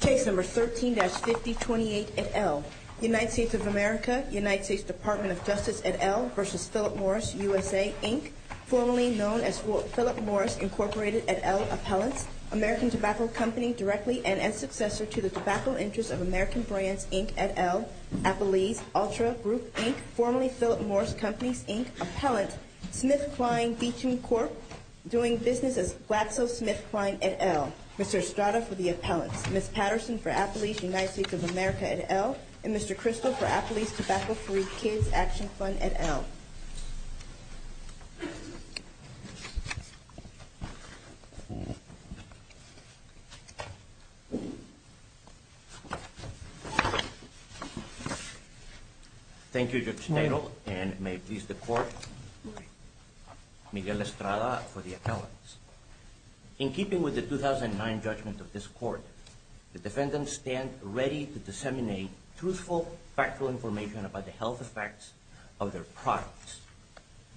Case No. 13-5028 et al., United States of America, United States Department of Justice et al. v. Philip Morris USA Inc., formerly known as Philip Morris Incorporated et al. Appellants, American Tobacco Company, directly and as successor to the Tobacco Interest of American Brands Inc. et al., Appellees Ultra Group Inc., formerly Philip Morris Companies Inc. Appellant, SmithKline Beecham Corp., doing business as Waxo SmithKline et al. Mr. Estrada for the Appellants, Ms. Patterson for Appellees United States of America et al., and Mr. Crystal for Appellees Tobacco-Free Kids Action Fund et al. Thank you, Judge Nadel, and may it please the Court, Miguel Estrada for the Appellants. In keeping with the 2009 judgment of this Court, the defendants stand ready to disseminate truthful, factual information about the health effects of their products.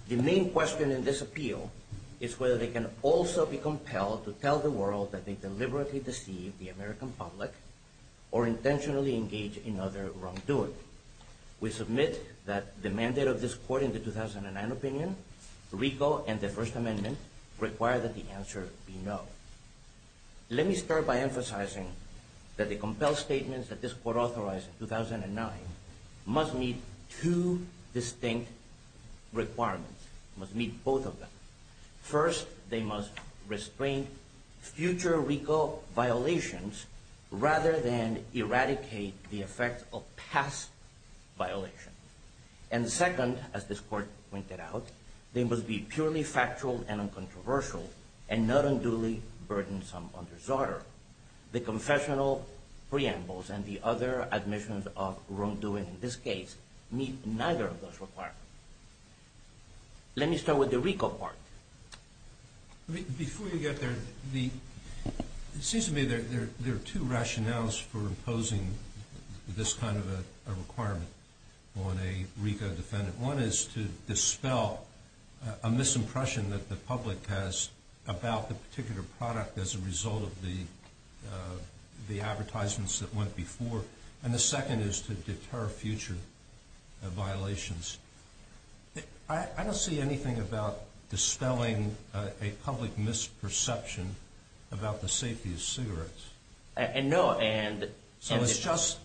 The main question in this appeal is whether they can also be compelled to tell the world that they deliberately deceive the American public or intentionally engage in other wrongdoing. Therefore, we submit that the mandate of this Court in the 2009 opinion, RICO and the First Amendment, require that the answer be no. Let me start by emphasizing that the compelled statements that this Court authorized in 2009 must meet two distinct requirements, must meet both of them. First, they must restrain future RICO violations rather than eradicate the effects of past violations. And second, as this Court pointed out, they must be purely factual and uncontroversial, and not unduly burdensome or disorder. The confessional preambles and the other admissions of wrongdoing in this case meet neither of those requirements. Let me start with the RICO part. Before you get there, it seems to me there are two rationales for imposing this kind of a requirement on a RICO defendant. One is to dispel a misimpression that the public has about the particular product as a result of the advertisements that went before. And the second is to deter future violations. I don't see anything about dispelling a public misperception about the safety of cigarettes. So it's just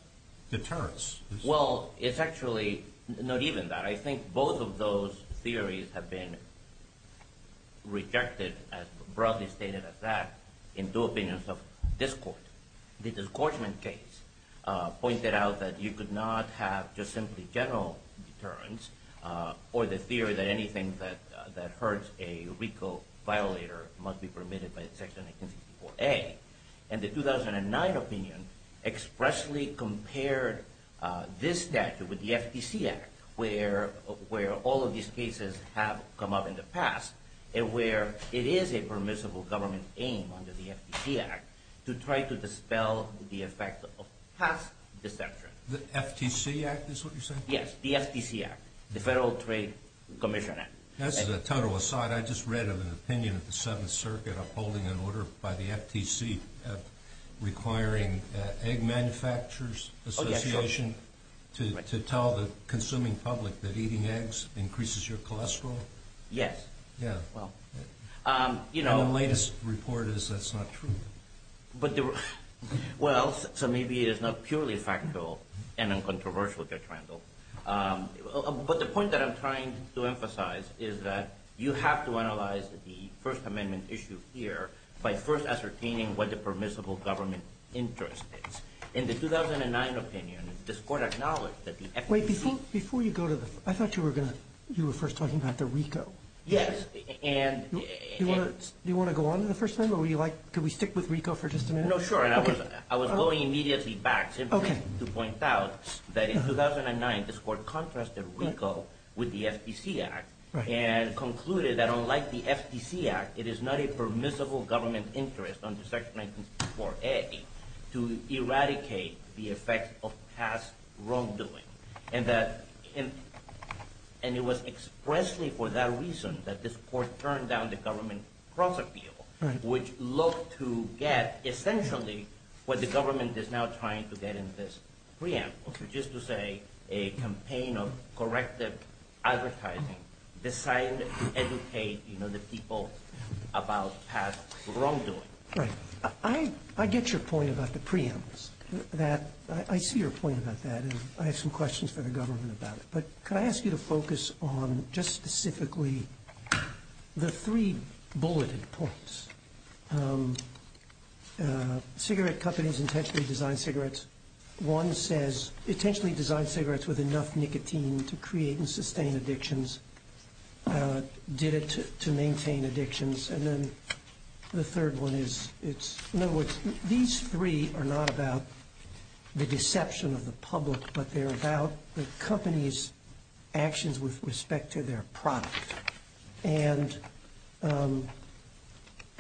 deterrence. Well, it's actually not even that. I think both of those theories have been rejected, as broadly stated as that, in two opinions of this Court. The disgorgement case pointed out that you could not have just simply general deterrence, or the theory that anything that hurts a RICO violator must be permitted by Section 1864A. And the 2009 opinion expressly compared this statute with the FTC Act, where all of these cases have come up in the past, and where it is a permissible government aim under the FTC Act to try to dispel the effect of past deception. The FTC Act is what you're saying? Yes, the FTC Act, the Federal Trade Commission Act. As a total aside, I just read of an opinion of the Seventh Circuit upholding an order by the FTC requiring Egg Manufacturers Association to tell the consuming public that eating eggs increases your cholesterol? Yes. And the latest report is that's not true. Well, so maybe it's not purely factual and uncontroversial, Judge Randall. But the point that I'm trying to emphasize is that you have to analyze the First Amendment issue here by first ascertaining what the permissible government interest is. In the 2009 opinion, this Court acknowledged that the FTC Act... Wait, before you go to the... I thought you were going to... you were first talking about the RICO. Yes, and... Do you want to go on to the First Amendment? Would you like... could we stick with RICO for just a minute? No, sure. I was going immediately back to point out that in 2009, this Court contrasted RICO with the FTC Act and concluded that unlike the FTC Act, it is not a permissible government interest under Section 1964A to eradicate the effect of past wrongdoing. And it was expressly for that reason that this Court turned down the government cross-appeal, which looked to get essentially what the government is now trying to get in this preamble, which is to say a campaign of corrective advertising designed to educate the people about past wrongdoing. Right. I get your point about the preambles, that... I see your point about that, and I have some questions for the government about it. But could I ask you to focus on just specifically the three bulleted points? Cigarette companies intentionally designed cigarettes. One says intentionally designed cigarettes with enough nicotine to create and sustain addictions, did it to maintain addictions, and then the third one is... In other words, these three are not about the deception of the public, but they're about the company's actions with respect to their product. And,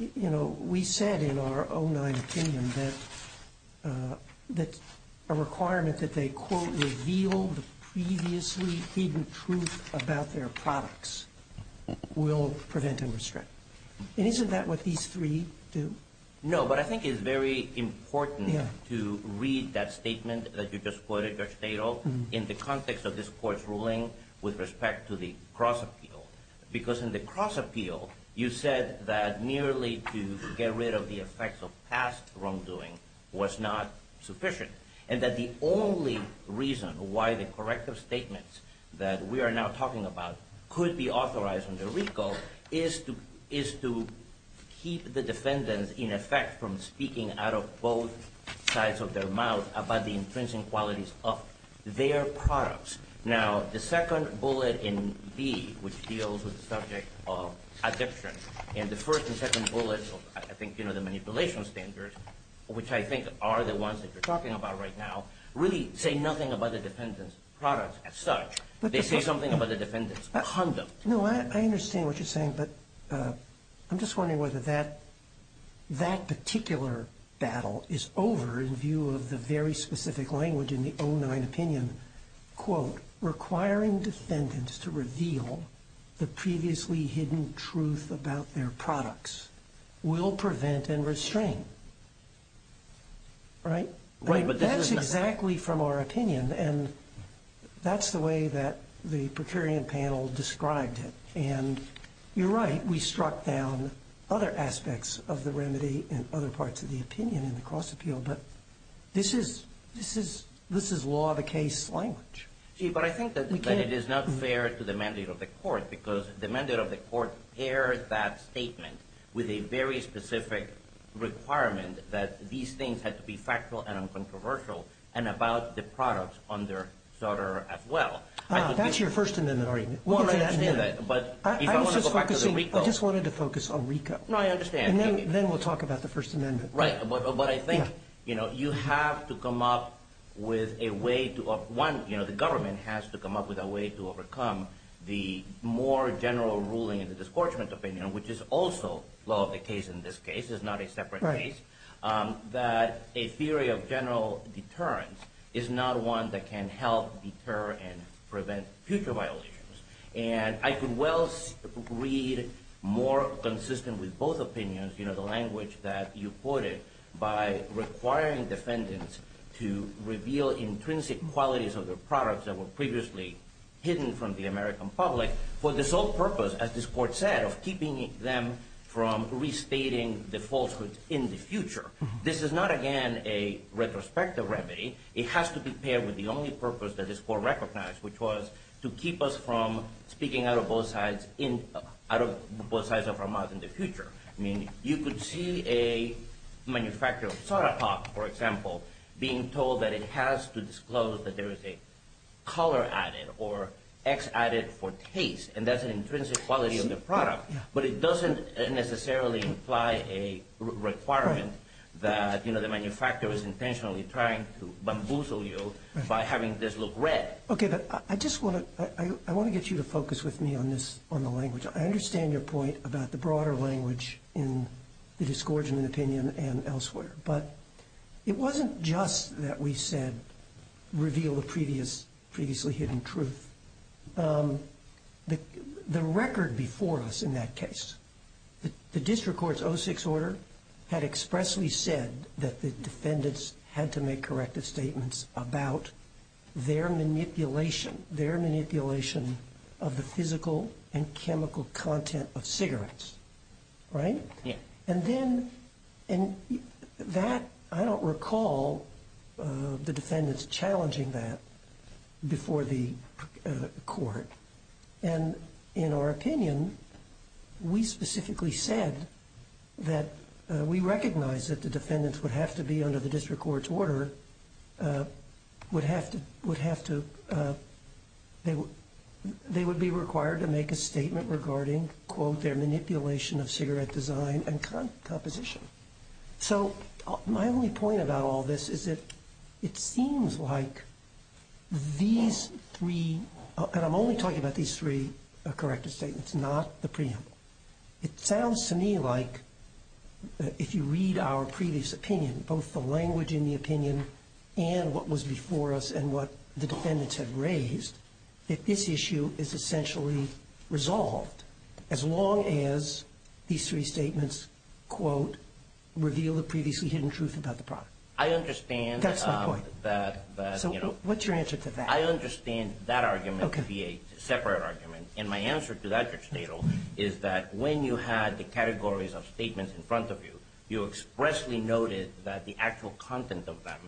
you know, we said in our 2009 opinion that a requirement that they, quote, withhold previously hidden proof about their products will prevent and restrict. And isn't that what these three do? No, but I think it's very important to read that statement that you just quoted, Judge Tatel, in the context of this Court's ruling with respect to the cross-appeal, because in the cross-appeal you said that merely to get rid of the effects of past wrongdoing was not sufficient, and that the only reason why the corrective statements that we are now talking about could be authorized under RICO is to keep the defendants, in effect, from speaking out of both sides of their mouth about the intrinsic qualities of their products. Now, the second bullet in B, which deals with the subject of addiction, and the first and second bullets of, I think, you know, the manipulation standards, which I think are the ones that you're talking about right now, really say nothing about the defendants' products as such. They say something about the defendants' conduct. No, I understand what you're saying, but I'm just wondering whether that particular battle is over in view of the very specific language in the 2009 opinion, quote, requiring defendants to reveal the previously hidden truth about their products will prevent and restrain. Right? That's exactly from our opinion, and that's the way that the Procurian panel described it. And you're right, we struck down other aspects of the remedy in other parts of the opinion in the cross-appeal, but this is law of the case language. See, but I think that it is not fair to the mandate of the court, because the mandate of the court pairs that statement with a very specific requirement that these things have to be factual and uncontroversial and about the products on their charter as well. That's your First Amendment argument. Well, I didn't say that, but if I want to go back to the RICO. I just wanted to focus on RICO. No, I understand. And then we'll talk about the First Amendment. Right, but I think, you know, you have to come up with a way to, one, you know, the government has to come up with a way to overcome the more general ruling in the discouragement opinion, which is also law of the case in this case. It's not a separate case. Right. That a theory of general deterrence is not one that can help deter and prevent future violations. And I could well read more consistent with both opinions, you know, the language that you quoted by requiring defendants to reveal intrinsic qualities of their products that were previously hidden from the American public for the sole purpose, as this court said, of keeping them from restating the falsehoods in the future. This is not, again, a retrospective remedy. It has to be paired with the only purpose that this court recognized, which was to keep us from speaking out of both sides of our mouth in the future. I mean, you could see a manufacturer of soda pop, for example, being told that it has to disclose that there is a color added or X added for taste, and that's an intrinsic quality of the product. But it doesn't necessarily imply a requirement that, you know, the manufacturer is intentionally trying to bamboozle you by having this look red. Okay, but I just want to get you to focus with me on the language. I understand your point about the broader language in the disgorgement opinion and elsewhere, but it wasn't just that we said reveal the previously hidden truth. The record before us in that case, the district court's 06 order had expressly said that the defendants had to make corrective statements about their manipulation, their manipulation of the physical and chemical content of cigarettes. Right? Yeah. And then that, I don't recall the defendants challenging that before the court. And in our opinion, we specifically said that we recognize that the defendants would have to be under the district court's order, would have to, they would be required to make a statement regarding, quote, their manipulation of cigarette design and composition. So my only point about all this is that it seems like these three, and I'm only talking about these three corrective statements, not the preamble. It sounds to me like if you read our previous opinion, both the language in the opinion and what was before us and what the defendants had raised, that this issue is essentially resolved, as long as these three statements, quote, reveal the previously hidden truth about the product. I understand that. That's my point. So what's your answer to that? I understand that argument to be a separate argument. And my answer to that, Judge Nadal, is that when you had the categories of statements in front of you, you expressly noted that the actual content of them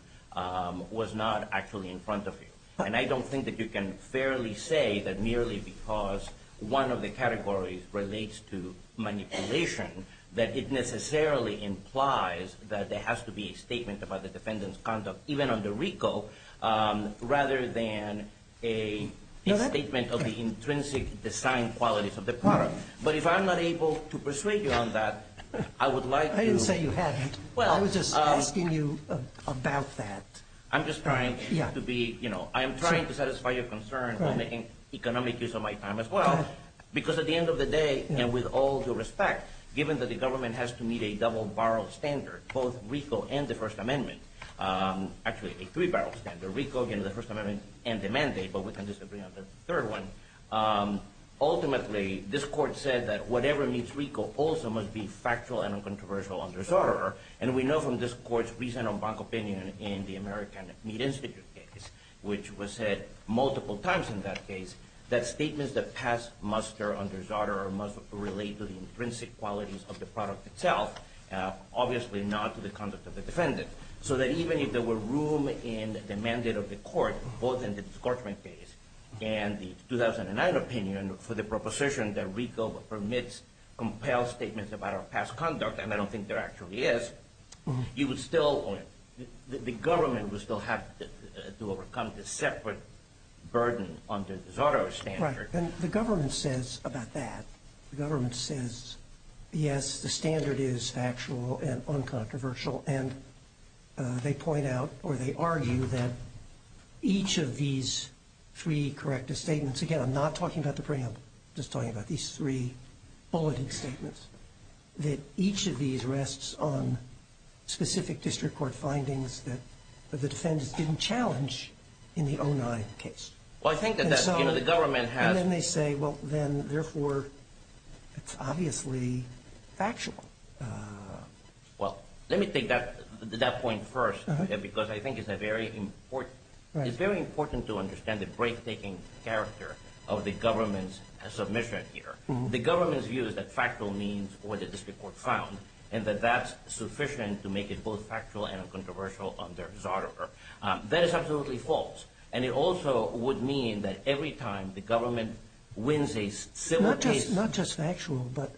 was not actually in front of you. And I don't think that you can fairly say that merely because one of the categories relates to manipulation, that it necessarily implies that there has to be a statement about the defendants' conduct, even under RICO, rather than a statement of the intrinsic design qualities of the product. But if I'm not able to persuade you on that, I would like to. I didn't say you hadn't. Well. I was just asking you about that. I'm just trying to be, you know, I'm trying to satisfy your concern on making economic use of my time as well. Because at the end of the day, and with all due respect, given that the government has to meet a double-barrel standard, both RICO and the First Amendment, actually a three-barrel standard, RICO, again, the First Amendment, and the mandate, but we can disagree on the third one. Ultimately, this Court said that whatever meets RICO also must be factual and uncontroversial under Zotero. And we know from this Court's recent on-bank opinion in the American Meat Institute case, which was said multiple times in that case, that statements that pass muster under Zotero must relate to the intrinsic qualities of the product itself, obviously not to the conduct of the defendant. So that even if there were room in the mandate of the Court, both in the discouragement case and the 2009 opinion, for the proposition that RICO permits compelled statements about our past conduct, and I don't think there actually is, you would still, the government would still have to overcome this separate burden under Zotero's standard. Right, and the government says about that, the government says, yes, the standard is factual and uncontroversial, and they point out, or they argue, that each of these three corrective statements, again, I'm not talking about the preamble, I'm just talking about these three bulleted statements, that each of these rests on specific district court findings that the defendants didn't challenge in the 2009 case. Well, I think that that's, you know, the government has. And then they say, well, then, therefore, it's obviously factual. Well, let me take that point first, because I think it's a very important, it's very important to understand the break-taking character of the government's submission here. The government's view is that factual means what the district court found, and that that's sufficient to make it both factual and uncontroversial under Zotero. That is absolutely false, and it also would mean that every time the government wins a civil case. Not just factual, but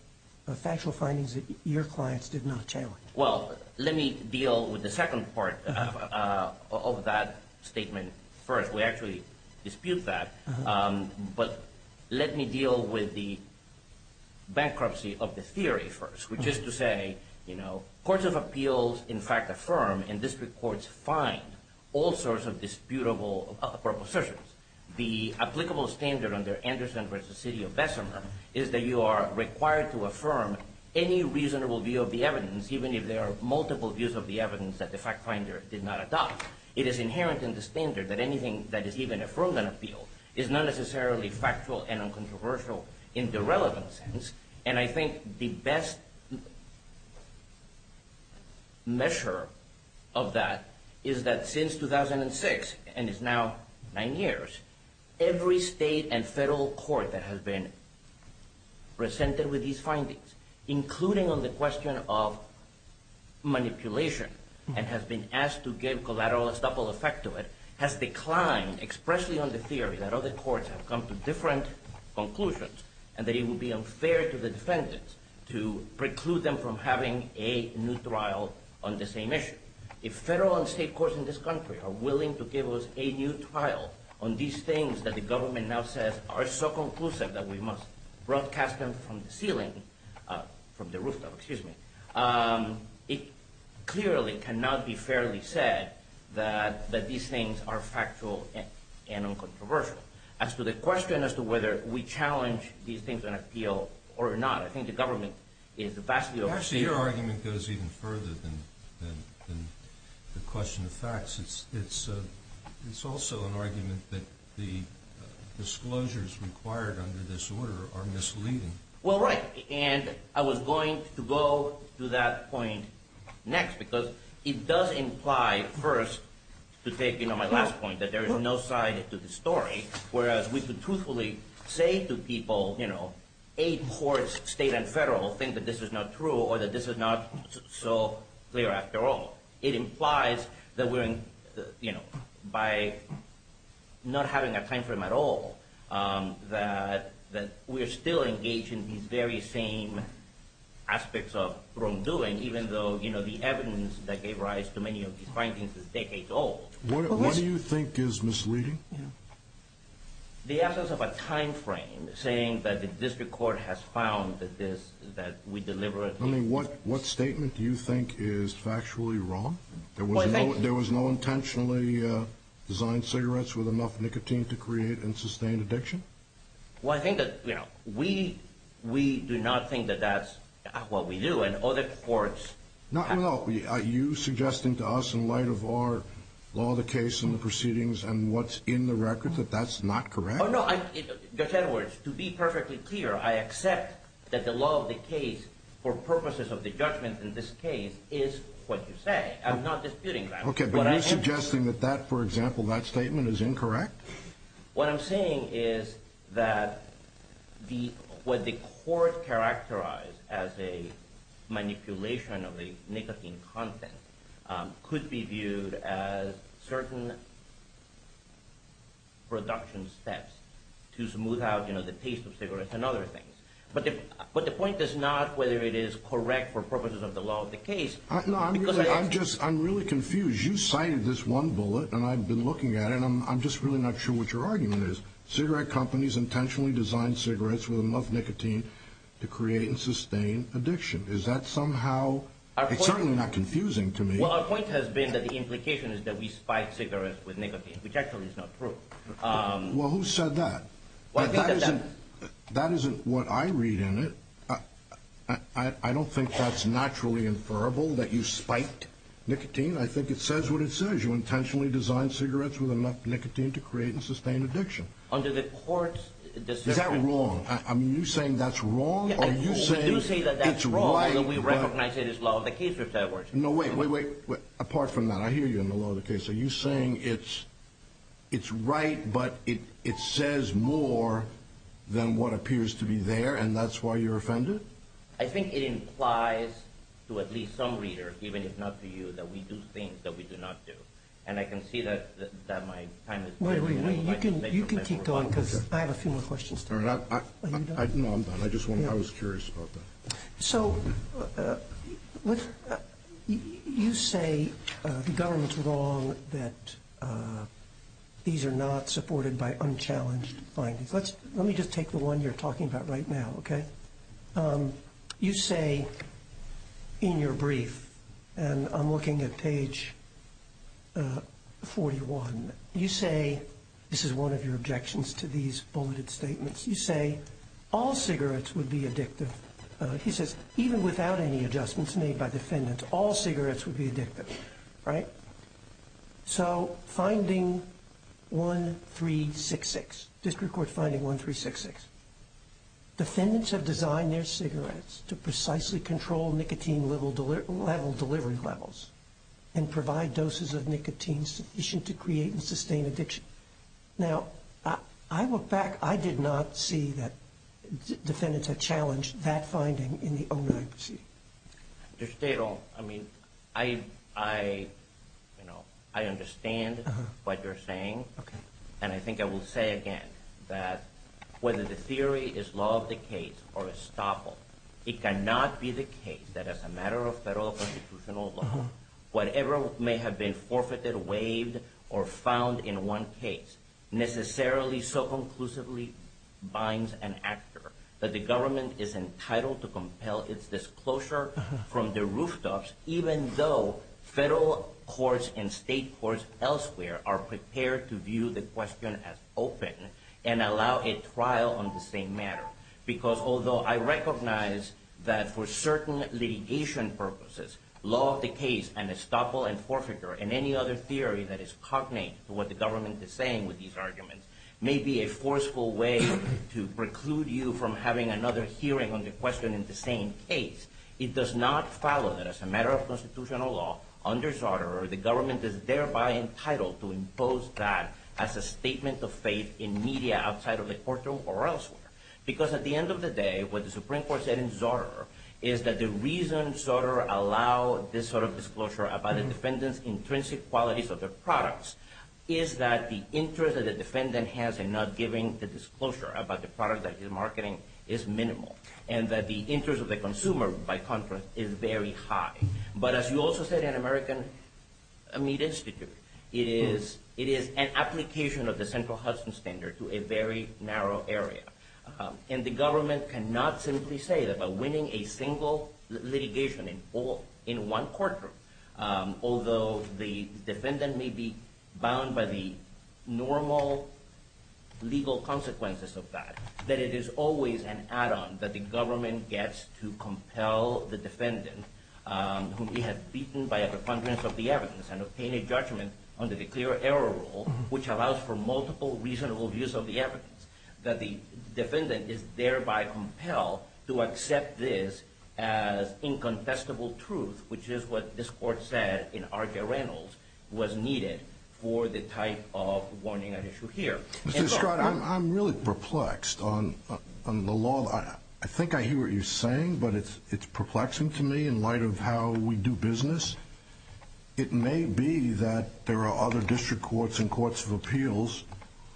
factual findings that your clients did not challenge. Well, let me deal with the second part of that statement first. We actually dispute that. But let me deal with the bankruptcy of the theory first, which is to say, you know, courts of appeals, in fact, affirm and district courts find all sorts of disputable propositions. The applicable standard under Anderson v. City of Bessemer is that you are required to affirm any reasonable view of the evidence, even if there are multiple views of the evidence that the fact finder did not adopt. It is inherent in the standard that anything that is even affirmed in an appeal is not necessarily factual and uncontroversial in the relevant sense. And I think the best measure of that is that since 2006, and it's now nine years, every state and federal court that has been presented with these findings, including on the question of manipulation and has been asked to give collateral estoppel effect to it, has declined expressly on the theory that other courts have come to different conclusions and that it would be unfair to the defendants to preclude them from having a new trial on the same issue. If federal and state courts in this country are willing to give us a new trial on these things that the government now says are so conclusive that we must broadcast them from the ceiling, from the rooftop, excuse me, it clearly cannot be fairly said that these things are factual and uncontroversial. As to the question as to whether we challenge these things in an appeal or not, I think the government is vastly over- Actually, your argument goes even further than the question of facts. It's also an argument that the disclosures required under this order are misleading. Well, right, and I was going to go to that point next because it does imply, first, to take my last point, that there is no side to the story, whereas we could truthfully say to people, eight courts, state and federal, think that this is not true or that this is not so clear after all. It implies that we're, you know, by not having a time frame at all, that we're still engaged in these very same aspects of wrongdoing, even though, you know, the evidence that gave rise to many of these findings is decades old. What do you think is misleading? The absence of a time frame saying that the district court has found that we deliberately- I mean, what statement do you think is factually wrong? There was no intentionally designed cigarettes with enough nicotine to create and sustain addiction? Well, I think that, you know, we do not think that that's what we do, and other courts- No, no, no. Are you suggesting to us, in light of our law of the case and the proceedings and what's in the record, that that's not correct? Oh, no. Judge Edwards, to be perfectly clear, I accept that the law of the case, for purposes of the judgment in this case, is what you say. I'm not disputing that. Okay, but you're suggesting that that, for example, that statement is incorrect? What I'm saying is that what the court characterized as a manipulation of the nicotine content could be viewed as certain production steps to smooth out, you know, the taste of cigarettes and other things. But the point is not whether it is correct for purposes of the law of the case- No, I'm really confused. You cited this one bullet, and I've been looking at it, and I'm just really not sure what your argument is. Cigarette companies intentionally designed cigarettes with enough nicotine to create and sustain addiction. Is that somehow- it's certainly not confusing to me. Well, our point has been that the implication is that we spike cigarettes with nicotine, which actually is not true. Well, who said that? That isn't what I read in it. I don't think that's naturally inferable, that you spiked nicotine. I think it says what it says. You intentionally designed cigarettes with enough nicotine to create and sustain addiction. Under the court's- Is that wrong? Are you saying that's wrong? We do say that that's wrong, but we recognize it as law of the case. No, wait, wait, wait. Apart from that, I hear you in the law of the case. Are you saying it's right, but it says more than what appears to be there, and that's why you're offended? I think it implies to at least some reader, even if not to you, that we do things that we do not do. And I can see that my time is- Wait, wait, wait. You can keep going, because I have a few more questions. No, I'm done. I was curious about that. So you say the government's wrong that these are not supported by unchallenged findings. Let me just take the one you're talking about right now, okay? You say in your brief, and I'm looking at page 41, you say- This is one of your objections to these bulleted statements. You say, all cigarettes would be addictive. He says, even without any adjustments made by defendants, all cigarettes would be addictive, right? So, finding 1366, district court finding 1366. Defendants have designed their cigarettes to precisely control nicotine level delivery levels and provide doses of nicotine sufficient to create and sustain addiction. Now, I look back, I did not see that defendants have challenged that finding in the 09 proceeding. Judge Teto, I mean, I understand what you're saying. Okay. And I think I will say again that whether the theory is law of the case or estoppel, it cannot be the case that as a matter of federal constitutional law, whatever may have been forfeited, waived, or found in one case necessarily so conclusively binds an actor that the government is entitled to compel its disclosure from the rooftops even though federal courts and state courts elsewhere are prepared to view the question as open and allow a trial on the same matter. Because although I recognize that for certain litigation purposes, law of the case and estoppel and forfeiture and any other theory that is cognate to what the government is saying with these arguments may be a forceful way to preclude you from having another hearing on the question in the same case, it does not follow that as a matter of constitutional law, under Zoderer, the government is thereby entitled to impose that as a statement of faith in media outside of the courtroom or elsewhere. Because at the end of the day, what the Supreme Court said in Zoderer is that the reason Zoderer allowed this sort of disclosure about a defendant's intrinsic qualities of their products is that the interest that the defendant has in not giving the disclosure about the product that he's marketing is minimal and that the interest of the consumer, by contrast, is very high. But as you also said in American Meat Institute, it is an application of the Central Hudson Standard to a very narrow area. And the government cannot simply say that by winning a single litigation in one courtroom, although the defendant may be bound by the normal legal consequences of that, that it is always an add-on that the government gets to compel the defendant whom he has beaten by a preponderance of the evidence and obtained a judgment under the clear error rule, which allows for multiple reasonable views of the evidence, that the defendant is thereby compelled to accept this as incontestable truth, which is what this Court said in Arca-Reynolds was needed for the type of warning at issue here. Mr. Escrotta, I'm really perplexed on the law. I think I hear what you're saying, but it's perplexing to me in light of how we do business. It may be that there are other district courts and courts of appeals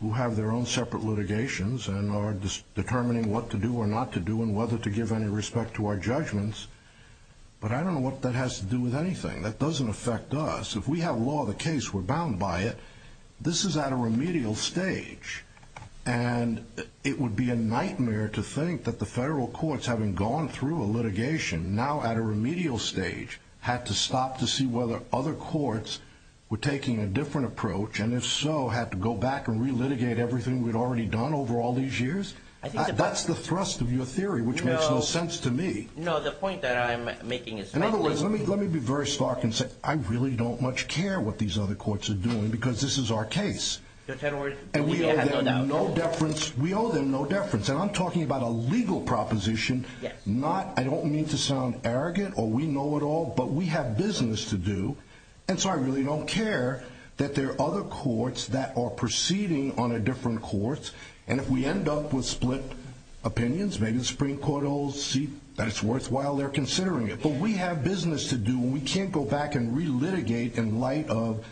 who have their own separate litigations and are determining what to do or not to do and whether to give any respect to our judgments, but I don't know what that has to do with anything. That doesn't affect us. If we have law of the case, we're bound by it. This is at a remedial stage, and it would be a nightmare to think that the federal courts, having gone through a litigation now at a remedial stage, had to stop to see whether other courts were taking a different approach, and if so, had to go back and relitigate everything we'd already done over all these years. That's the thrust of your theory, which makes no sense to me. No, the point that I'm making is that— In other words, let me be very stark and say I really don't much care what these other courts are doing because this is our case, and we owe them no deference, and I'm talking about a legal proposition. I don't mean to sound arrogant, or we know it all, but we have business to do, and so I really don't care that there are other courts that are proceeding on a different course, and if we end up with split opinions, maybe the Supreme Court will see that it's worthwhile they're considering it, but we have business to do, and we can't go back and relitigate in light of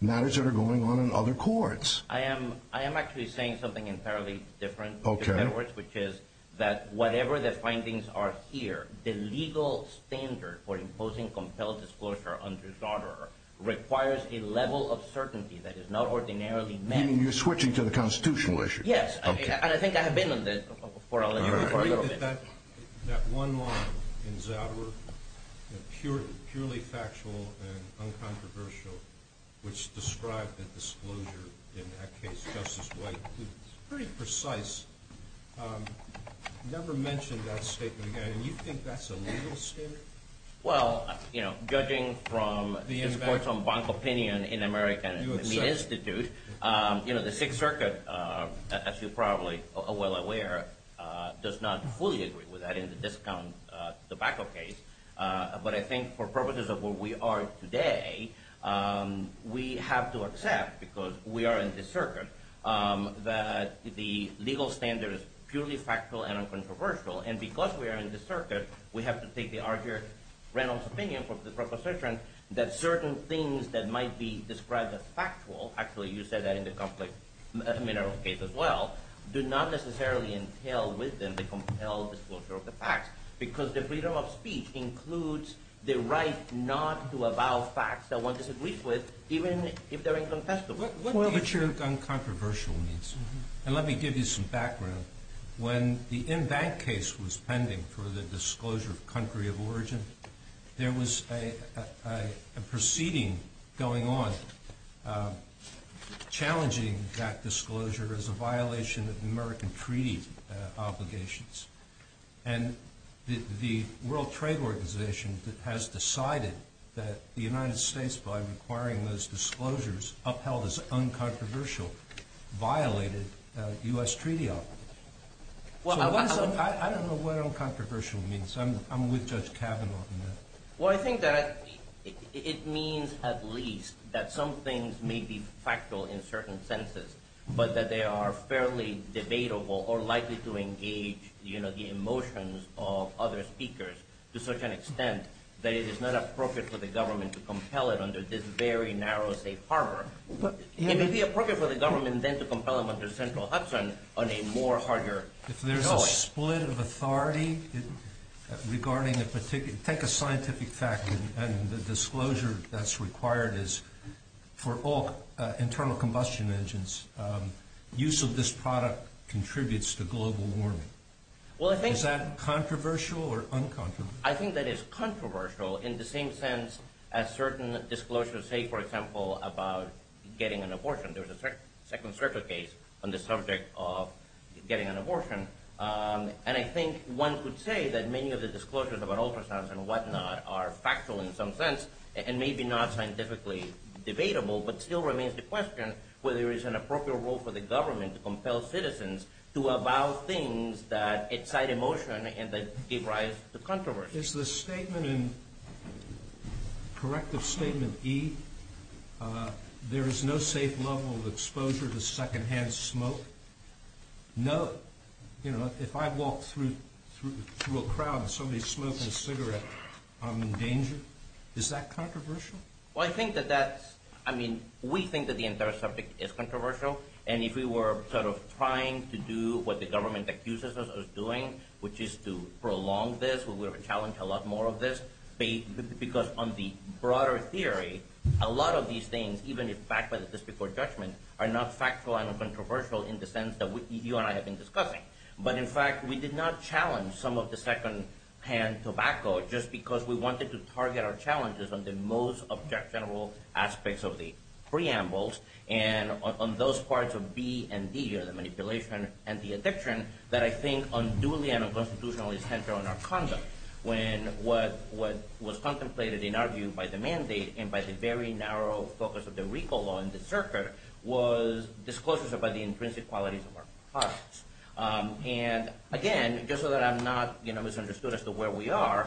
matters that are going on in other courts. I am actually saying something entirely different, in other words, which is that whatever the findings are here, the legal standard for imposing compelled disclosure under Charter requires a level of certainty that is not ordinarily met. You're switching to the constitutional issue. Yes, and I think I have been on this for a little bit. That one line in Zadwer, purely factual and uncontroversial, which described the disclosure in that case, Justice White, it's pretty precise, never mentioned that statement again, and you think that's a legal standard? Well, judging from this Court's own bank opinion in American Institute, the Sixth Circuit, as you're probably well aware, does not fully agree with that in the discount tobacco case, but I think for purposes of where we are today, we have to accept, because we are in this circuit, that the legal standard is purely factual and uncontroversial, and because we are in this circuit, we have to take the arguer Reynolds' opinion from the proposition that certain things that might be described as factual, actually you said that in the conflict mineral case as well, do not necessarily entail within the compelled disclosure of the facts, because the freedom of speech includes the right not to avow facts that one disagrees with, even if they're incontestable. What do you think uncontroversial means? And let me give you some background. When the in-bank case was pending for the disclosure of country of origin, there was a proceeding going on challenging that disclosure as a violation of American treaty obligations, and the World Trade Organization has decided that the United States, by requiring those disclosures upheld as uncontroversial, violated U.S. treaty obligations. So I don't know what uncontroversial means. I'm with Judge Kavanaugh on that. Well, I think that it means at least that some things may be factual in certain senses, but that they are fairly debatable or likely to engage the emotions of other speakers to such an extent that it is not appropriate for the government to compel it under this very narrow safe harbor. It may be appropriate for the government then to compel them under central Hudson on a more harder choice. If there's a split of authority regarding a particular, take a scientific fact, and the disclosure that's required is for all internal combustion engines, use of this product contributes to global warming. Is that controversial or uncontroversial? I think that it's controversial in the same sense as certain disclosures say, for example, about getting an abortion. There was a second circuit case on the subject of getting an abortion, and I think one could say that many of the disclosures about ultrasounds and whatnot are factual in some sense and maybe not scientifically debatable, but still remains the question whether there is an appropriate role for the government to compel citizens to avow things that excite emotion and that give rise to controversy. Is the statement in corrective statement E, there is no safe level of exposure to secondhand smoke? No. You know, if I walk through a crowd and somebody's smoking a cigarette, I'm in danger. Is that controversial? Well, I think that that's, I mean, we think that the entire subject is controversial, and if we were sort of trying to do what the government accuses us of doing, which is to prolong this, we would have challenged a lot more of this, because on the broader theory, a lot of these things, even if backed by the just before judgment, are not factual and controversial in the sense that you and I have been discussing. But in fact, we did not challenge some of the secondhand tobacco just because we wanted to target our challenges on the most object-general aspects of the preambles and on those parts of B and D, or the manipulation and the addiction, that I think unduly and unconstitutionally center on our conduct. When what was contemplated and argued by the mandate and by the very narrow focus of the recall law in the circuit was disclosures about the intrinsic qualities of our products. And again, just so that I'm not misunderstood as to where we are,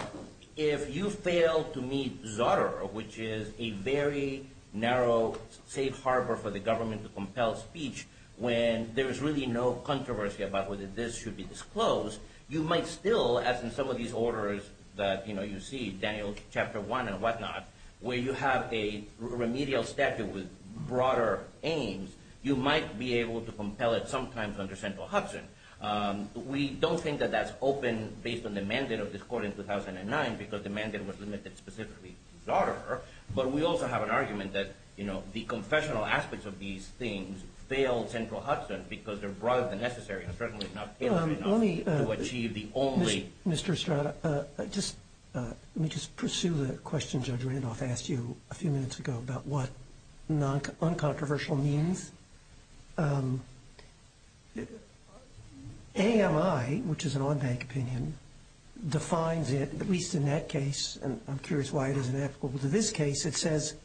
if you fail to meet Zotter, which is a very narrow safe harbor for the government to compel speech when there is really no controversy about whether this should be disclosed, you might still, as in some of these orders that you see, Daniel chapter 1 and whatnot, where you have a remedial statute with broader aims, you might be able to compel it sometimes under central Hudson. We don't think that that's open based on the mandate of this court in 2009, because the mandate was limited specifically to Zotter. But we also have an argument that the confessional aspects of these things failed central Hudson, because they're broader than necessary and certainly not tailored enough to achieve the only. Mr. Estrada, let me just pursue the question Judge Randolph asked you a few minutes ago about what uncontroversial means. AMI, which is an on-bank opinion, defines it, at least in that case, and I'm curious why it isn't applicable to this case. It says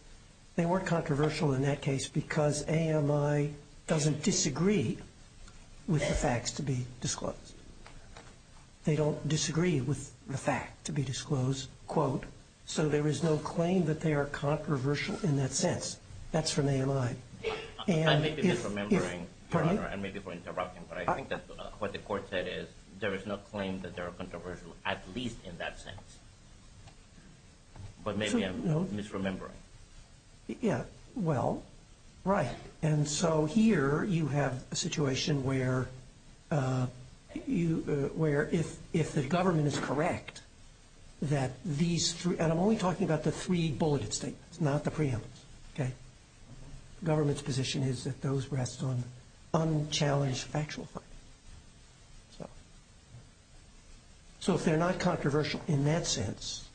they weren't controversial in that case because AMI doesn't disagree with the facts to be disclosed. They don't disagree with the fact to be disclosed, quote. So there is no claim that they are controversial in that sense. That's from AMI. I may be misremembering, Your Honor, and maybe for interrupting, but I think that what the court said is there is no claim that they are controversial, at least in that sense. But maybe I'm misremembering. Yeah, well, right. And so here you have a situation where if the government is correct that these three, and I'm only talking about the three bulleted statements, not the preemptives. Okay? Government's position is that those rest on unchallenged factual findings. So if they're not controversial in that sense,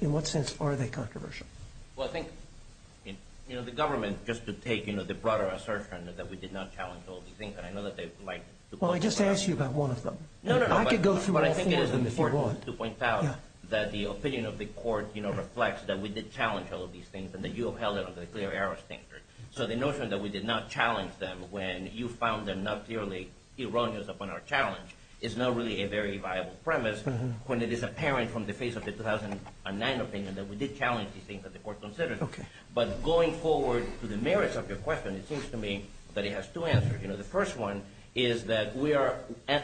in what sense are they controversial? Well, I think, you know, the government, just to take, you know, the broader assertion that we did not challenge all these things, and I know that they would like to point this out. Well, I just asked you about one of them. No, no, no. I could go through all four of them if you want. But I think it is important to point out that the opinion of the court, you know, reflects that we did challenge all of these things and that you upheld it under the clear error standard. So the notion that we did not challenge them when you found them not clearly erroneous upon our challenge is not really a very viable premise when it is apparent from the face of the 2009 opinion that we did challenge these things that the court considered. Okay. But going forward to the merits of your question, it seems to me that it has two answers. You know, the first one is that we are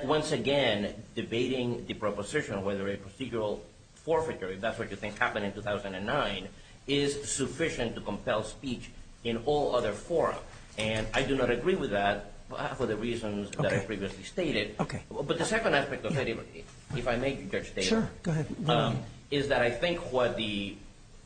once again debating the proposition of whether a procedural forfeiture, if that's what you think happened in 2009, is sufficient to compel speech in all other fora. And I do not agree with that for the reasons that I previously stated. Okay. But the second aspect of it, if I may, Judge Taylor, is that I think what the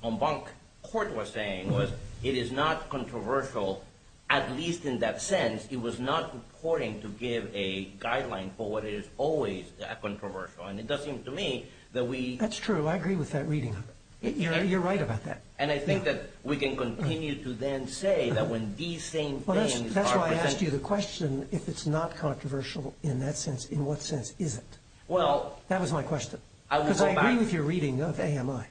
en banc court was saying was it is not controversial, at least in that sense. It was not reporting to give a guideline for what is always controversial. And it does seem to me that we — That's true. I agree with that reading. You're right about that. And I think that we can continue to then say that when these same things are presented — In what sense is it? Well — That was my question. I will go back — Because I agree with your reading of AMI.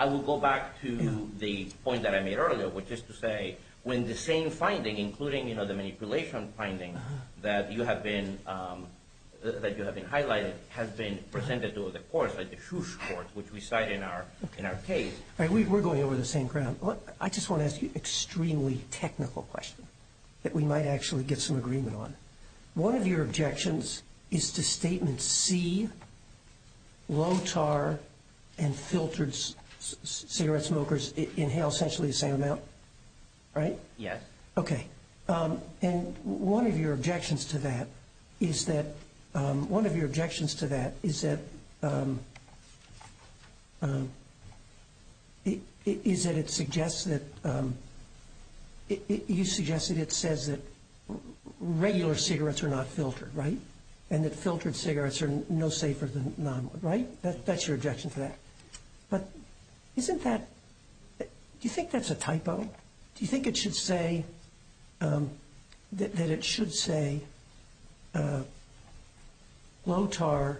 I will go back to the point that I made earlier, which is to say when the same finding, including, you know, the manipulation finding that you have been highlighted, has been presented to the courts, like the Fuchs courts, which we cite in our case. We're going over the same ground. I just want to ask you an extremely technical question that we might actually get some agreement on. One of your objections is to statement C, low tar and filtered cigarette smokers inhale essentially the same amount, right? Yes. Okay. And one of your objections to that is that — one of your objections to that is that it suggests that — you suggest that it says that regular cigarettes are not filtered, right? And that filtered cigarettes are no safer than non-filtered, right? That's your objection to that. But isn't that — do you think that's a typo? Do you think it should say — that it should say low tar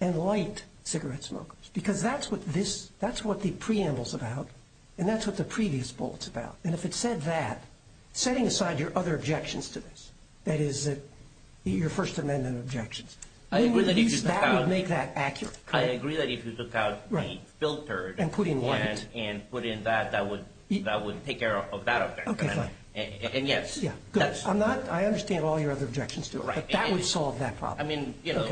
and light cigarette smokers? Because that's what this — that's what the preamble's about, and that's what the previous bullet's about. And if it said that, setting aside your other objections to this, that is, your First Amendment objections, that would make that accurate. I agree that if you took out the filtered one and put in that, that would take care of that objection. Okay, fine. And yes — I'm not — I understand all your other objections to it, but that would solve that problem. I mean, you know,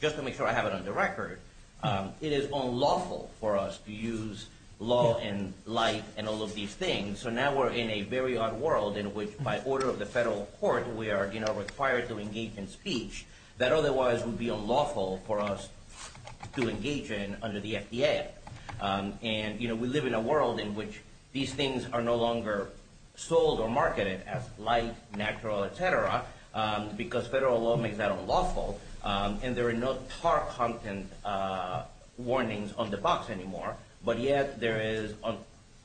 just to make sure I have it on the record, it is unlawful for us to use law and light and all of these things. And so now we're in a very odd world in which, by order of the federal court, we are, you know, required to engage in speech that otherwise would be unlawful for us to engage in under the FDA. And, you know, we live in a world in which these things are no longer sold or marketed as light, natural, et cetera, because federal law makes that unlawful. And there are no tar content warnings on the box anymore. But yet there is,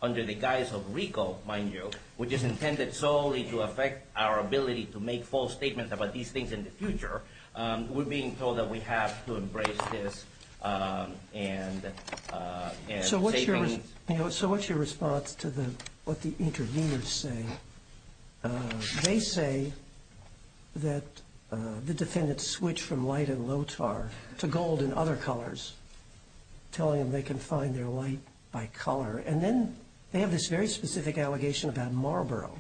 under the guise of RICO, mind you, which is intended solely to affect our ability to make false statements about these things in the future, we're being told that we have to embrace this and — So what's your response to what the interveners say? They say that the defendants switch from light and low tar to gold and other colors, telling them they can find their light by color. And then they have this very specific allegation about Marlboro,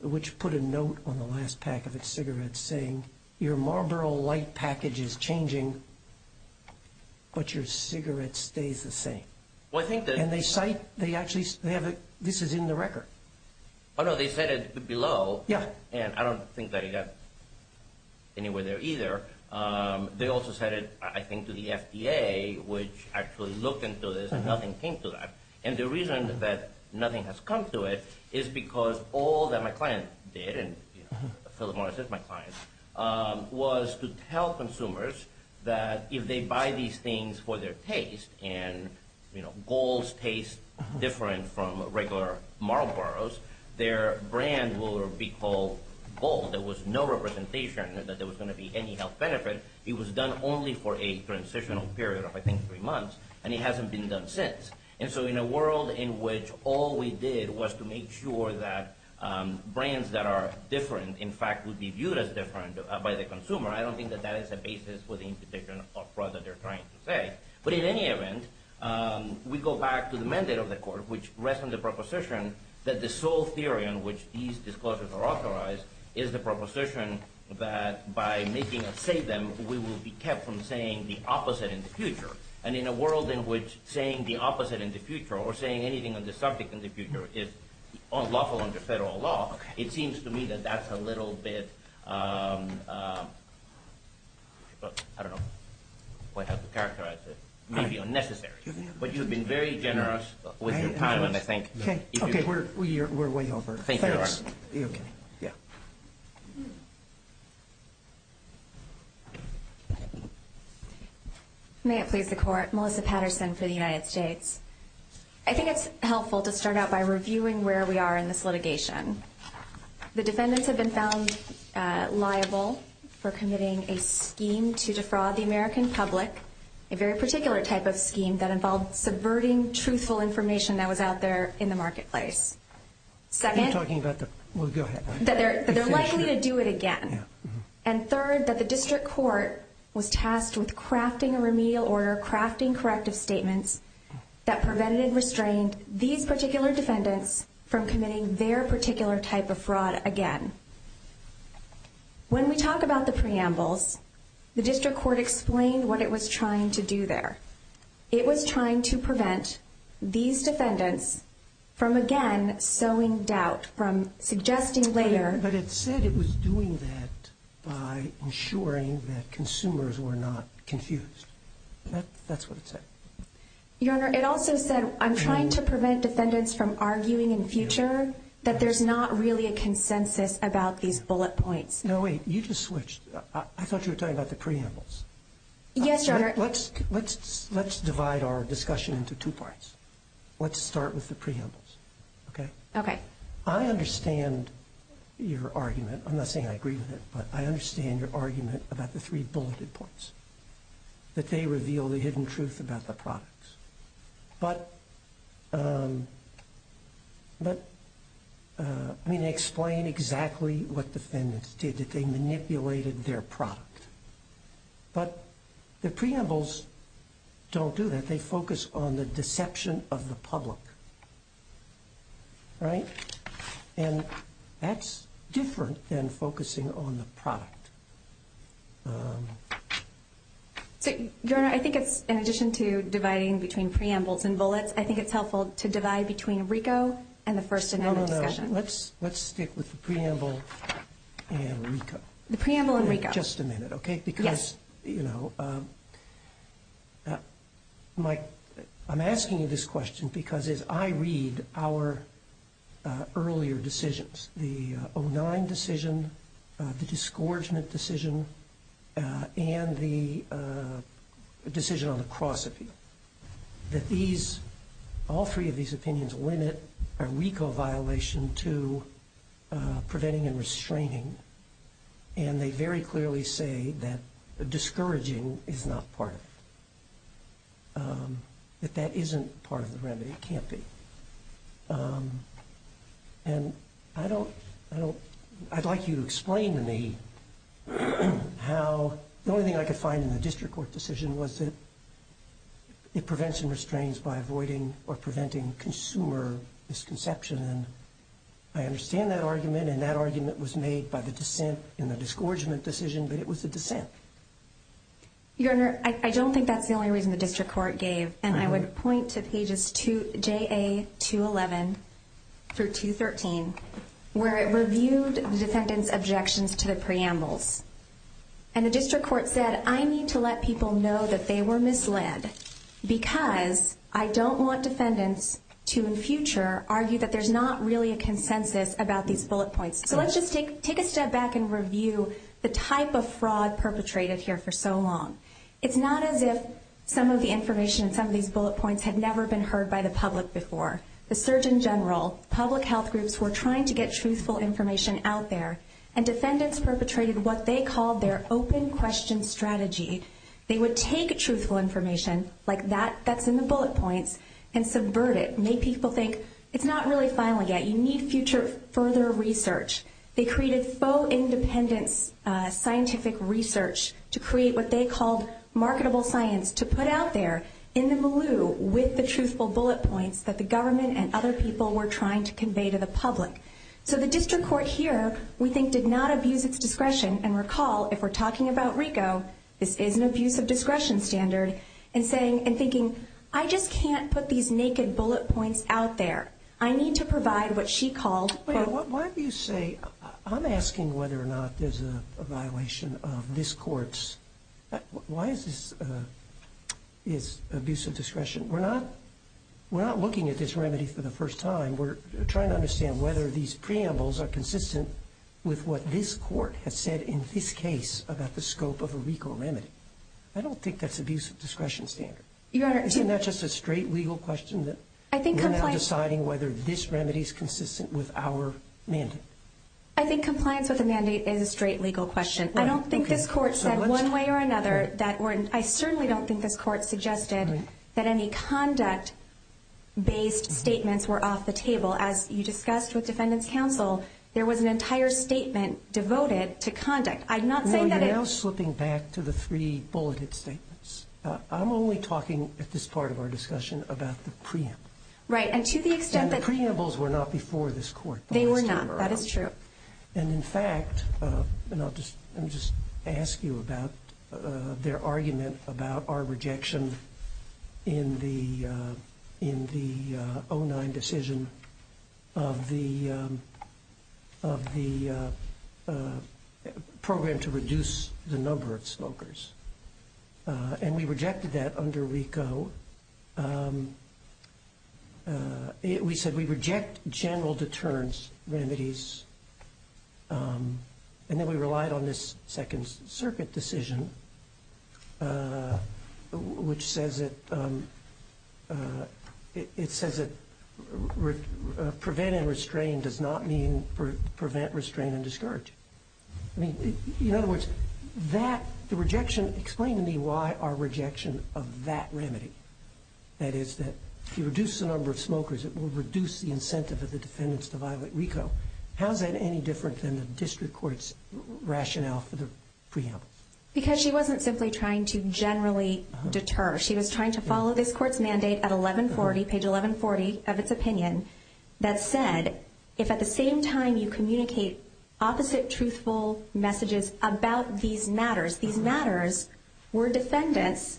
which put a note on the last pack of its cigarettes saying, your Marlboro light package is changing, but your cigarette stays the same. Well, I think that — And they cite — they actually — this is in the record. Oh, no, they said it below. Yeah. And I don't think that it got anywhere there either. They also said it, I think, to the FDA, which actually looked into this, and nothing came to that. And the reason that nothing has come to it is because all that my client did, and Philip Morris is my client, was to tell consumers that if they buy these things for their taste and, you know, gold's taste different from regular Marlboros, their brand will be called gold. There was no representation that there was going to be any health benefit. It was done only for a transitional period of, I think, three months, and it hasn't been done since. And so in a world in which all we did was to make sure that brands that are different, in fact, would be viewed as different by the consumer, I don't think that that is a basis for the implication of fraud that they're trying to say. But in any event, we go back to the mandate of the court, which rests on the proposition that the sole theory on which these disclosures are authorized is the proposition that by making us say them, we will be kept from saying the opposite in the future. And in a world in which saying the opposite in the future or saying anything on the subject in the future is lawful under federal law, it seems to me that that's a little bit, I don't know how to characterize it, maybe unnecessary. But you've been very generous with your time. Okay, we're way over. Thank you, Your Honor. Okay, yeah. May it please the Court. Melissa Patterson for the United States. I think it's helpful to start out by reviewing where we are in this litigation. The defendants have been found liable for committing a scheme to defraud the American public, a very particular type of scheme that involved subverting truthful information that was out there in the marketplace. I'm talking about the, well, go ahead. That they're likely to do it again. And third, that the district court was tasked with crafting a remedial order, crafting corrective statements, that prevented and restrained these particular defendants from committing their particular type of fraud again. When we talk about the preambles, the district court explained what it was trying to do there. It was trying to prevent these defendants from, again, sowing doubt, from suggesting later. But it said it was doing that by ensuring that consumers were not confused. That's what it said. Your Honor, it also said, I'm trying to prevent defendants from arguing in future that there's not really a consensus about these bullet points. Now, wait, you just switched. I thought you were talking about the preambles. Yes, Your Honor. Let's divide our discussion into two parts. Let's start with the preambles, okay? Okay. I understand your argument. I'm not saying I agree with it, but I understand your argument about the three bulleted points, that they reveal the hidden truth about the products. But, I mean, they explain exactly what defendants did, that they manipulated their product. But the preambles don't do that. They focus on the deception of the public, right? And that's different than focusing on the product. So, Your Honor, I think it's, in addition to dividing between preambles and bullets, I think it's helpful to divide between RICO and the First Amendment discussion. No, no, no. Let's stick with the preamble and RICO. The preamble and RICO. Just a minute, okay? Yes. Because, you know, Mike, I'm asking you this question because as I read our earlier decisions, the 09 decision, the disgorgement decision, and the decision on the cross-opinion, that all three of these opinions limit a RICO violation to preventing and restraining. And they very clearly say that discouraging is not part of it. That that isn't part of the remedy. It can't be. And I don't, I don't, I'd like you to explain to me how, the only thing I could find in the district court decision was that it prevents and restrains by avoiding or preventing consumer misconception. I understand that argument, and that argument was made by the dissent in the disgorgement decision, but it was the dissent. Your Honor, I don't think that's the only reason the district court gave. And I would point to pages JA211 through 213, where it reviewed the defendant's objections to the preambles. And the district court said, I need to let people know that they were misled because I don't want defendants to, in future, argue that there's not really a consensus about these bullet points. So let's just take a step back and review the type of fraud perpetrated here for so long. It's not as if some of the information in some of these bullet points had never been heard by the public before. The Surgeon General, public health groups were trying to get truthful information out there, and defendants perpetrated what they called their open question strategy. They would take truthful information, like that that's in the bullet points, and subvert it, make people think, it's not really final yet, you need further research. They created faux independence scientific research to create what they called marketable science to put out there in the blue with the truthful bullet points that the government and other people were trying to convey to the public. So the district court here, we think, did not abuse its discretion, and recall, if we're talking about RICO, this is an abuse of discretion standard, and thinking, I just can't put these naked bullet points out there. I need to provide what she called... Why do you say, I'm asking whether or not there's a violation of this court's, why is this abuse of discretion? We're not looking at this remedy for the first time. We're trying to understand whether these preambles are consistent with what this court has said in this case about the scope of a RICO remedy. I don't think that's abuse of discretion standard. Isn't that just a straight legal question? We're now deciding whether this remedy is consistent with our mandate. I think compliance with the mandate is a straight legal question. I don't think this court said one way or another. I certainly don't think this court suggested that any conduct-based statements were off the table. As you discussed with defendants' counsel, there was an entire statement devoted to conduct. I'm not saying that it... No, you're now slipping back to the three bulleted statements. I'm only talking at this part of our discussion about the preamble. Right, and to the extent that... And the preambles were not before this court. They were not, that is true. And, in fact, and I'll just ask you about their argument about our rejection in the 09 decision of the program to reduce the number of smokers. And we rejected that under RICO. We said we reject general deterrence remedies. And then we relied on this Second Circuit decision, which says that prevent and restrain does not mean prevent, restrain, and discourage. I mean, in other words, that, the rejection, explain to me why our rejection of that remedy. That is that if you reduce the number of smokers, it will reduce the incentive of the defendants to violate RICO. How is that any different than the district court's rationale for the preamble? Because she wasn't simply trying to generally deter. She was trying to follow this court's mandate at 1140, page 1140 of its opinion, that said, if at the same time you communicate opposite truthful messages about these matters. These matters were defendants,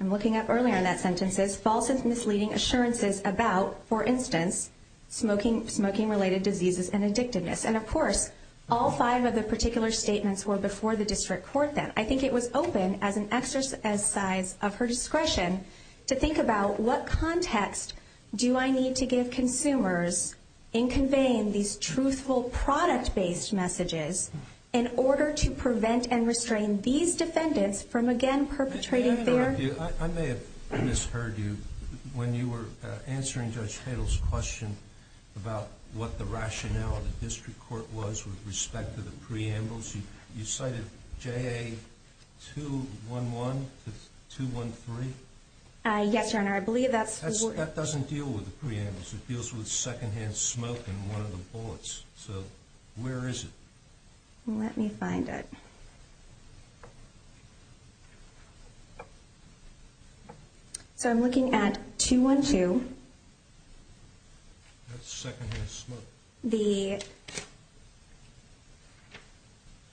I'm looking up earlier in that sentences, false and misleading assurances about, for instance, smoking related diseases and addictiveness. And, of course, all five of the particular statements were before the district court then. I think it was open as an exercise of her discretion to think about what context do I need to give consumers in conveying these truthful product-based messages in order to prevent and restrain these defendants from again perpetrating their- 2-1-1 to 2-1-3? Yes, your honor. I believe that's- That doesn't deal with the preamble. It deals with secondhand smoke in one of the bullets. So, where is it? Let me find it. So, I'm looking at 2-1-2. That's secondhand smoke. The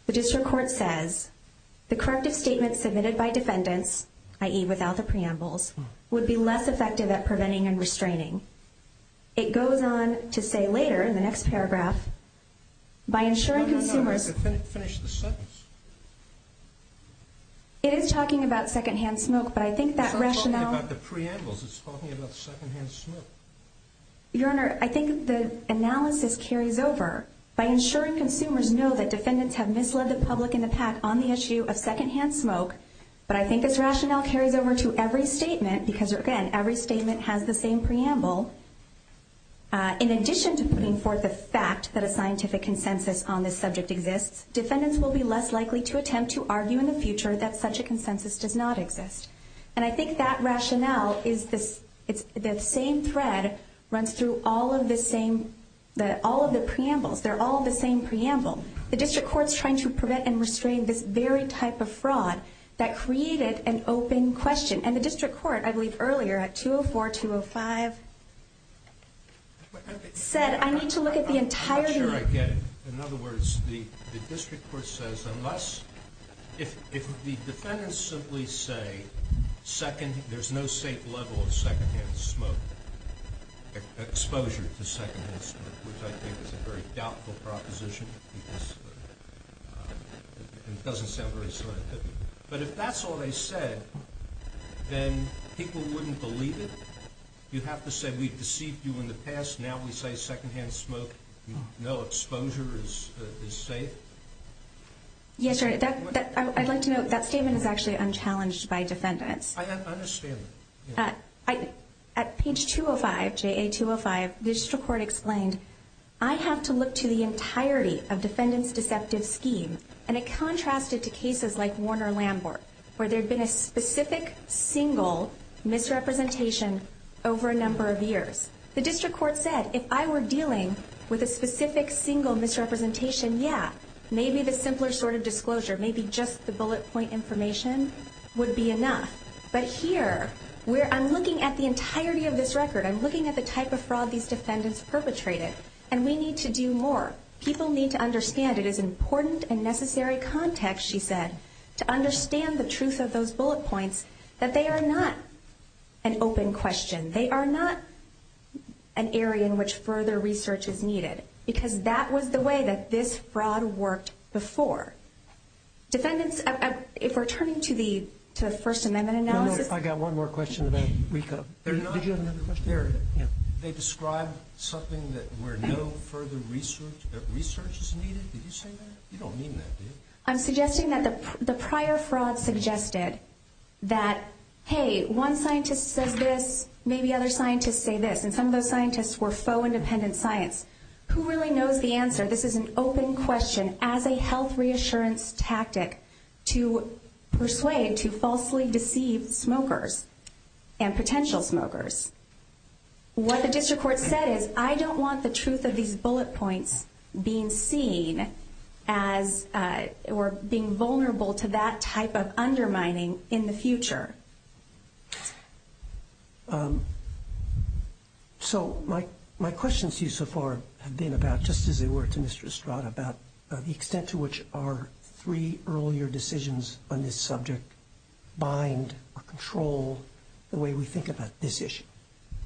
district court says, the corrective statement submitted by defendants, i.e. without the preambles, would be less effective at preventing and restraining. It goes on to say later in the next paragraph, by ensuring consumers- No, no, no. Finish the sentence. It is talking about secondhand smoke, but I think that rationale- It's not talking about the preambles. It's talking about secondhand smoke. Your honor, I think the analysis carries over by ensuring consumers know that defendants have misled the public in the past on the issue of secondhand smoke. But I think this rationale carries over to every statement, because again, every statement has the same preamble. In addition to putting forth the fact that a scientific consensus on this subject exists, defendants will be less likely to attempt to argue in the future that such a consensus does not exist. And I think that rationale is the same thread runs through all of the preambles. They're all the same preamble. The district court's trying to prevent and restrain this very type of fraud that created an open question. And the district court, I believe earlier, at 2-0-4, 2-0-5, said, I need to look at the entirety- I'm not sure I get it. In other words, the district court says, unless- If the defendants simply say, there's no safe level of secondhand smoke, exposure to secondhand smoke, which I think is a very doubtful proposition. It doesn't sound very scientific. But if that's all they said, then people wouldn't believe it. You have to say, we've deceived you in the past, now we say secondhand smoke, no exposure is safe? Yes, sir. I'd like to note, that statement is actually unchallenged by defendants. I understand that. At page 2-0-5, JA 2-0-5, the district court explained, I have to look to the entirety of defendants' deceptive scheme. And it contrasted to cases like Warner-Lambert, where there had been a specific, single misrepresentation over a number of years. The district court said, if I were dealing with a specific, single misrepresentation, yeah. Maybe the simpler sort of disclosure, maybe just the bullet point information would be enough. But here, I'm looking at the entirety of this record. I'm looking at the type of fraud these defendants perpetrated. And we need to do more. People need to understand, it is important and necessary context, she said, to understand the truth of those bullet points, that they are not an open question. They are not an area in which further research is needed. Because that was the way that this fraud worked before. Defendants, if we're turning to the First Amendment analysis. I've got one more question. Did you have another question? They described something where no further research is needed. Did you say that? You don't mean that, do you? I'm suggesting that the prior fraud suggested that, hey, one scientist says this, maybe other scientists say this. And some of those scientists were faux independent science. Who really knows the answer? This is an open question as a health reassurance tactic to persuade to falsely deceive smokers and potential smokers. What the district court said is, I don't want the truth of these bullet points being seen as or being vulnerable to that type of undermining in the future. So my question to you so far has been about, just as it were to Mr. Estrada, about the extent to which our three earlier decisions on this subject bind or control the way we think about this issue.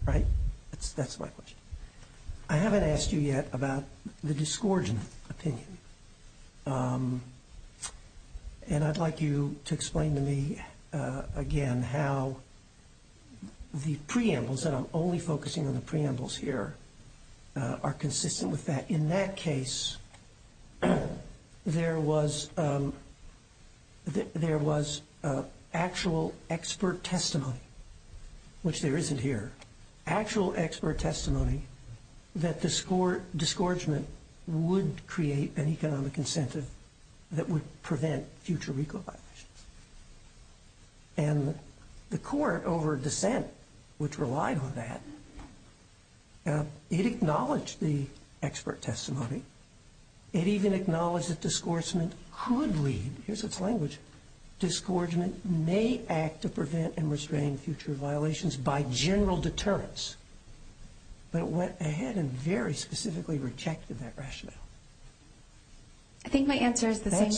Right? That's my question. I haven't asked you yet about the disgorgement opinion. And I'd like you to explain to me again how the preambles, and I'm only focusing on the preambles here, are consistent with that. In that case, there was actual expert testimony, which there isn't here. Actual expert testimony that the disgorgement would create an economic incentive that would prevent future recovery. And the court over dissent, which relied on that, it acknowledged the expert testimony. It even acknowledged that disgorgement could lead, here's its language, disgorgement may act to prevent and restrain future violations by general deterrence. But it went ahead and very specifically rejected that rationale. I think my answer is the same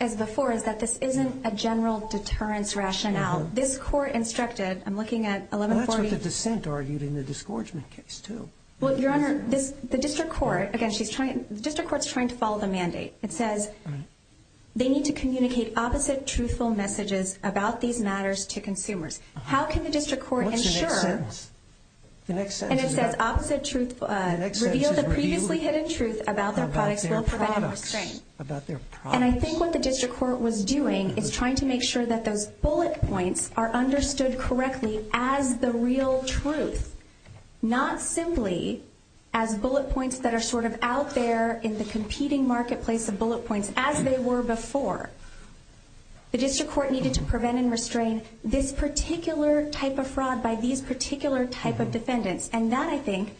as before, is that this isn't a general deterrence rationale. This court instructed, I'm looking at 1140. Well, that's what the dissent argued in the disgorgement case, too. Well, Your Honor, the district court, again, the district court's trying to follow the mandate. It says they need to communicate opposite truthful messages about these matters to consumers. How can the district court ensure. What's the next sentence? And it says opposite truth, reveal the previously hidden truth about their products will prevent and restrain. And I think what the district court was doing is trying to make sure that those bullet points are understood correctly as the real truth, not simply as bullet points that are sort of out there in the competing marketplace of bullet points as they were before. The district court needed to prevent and restrain this particular type of fraud by these particular type of defendants. And that, I think,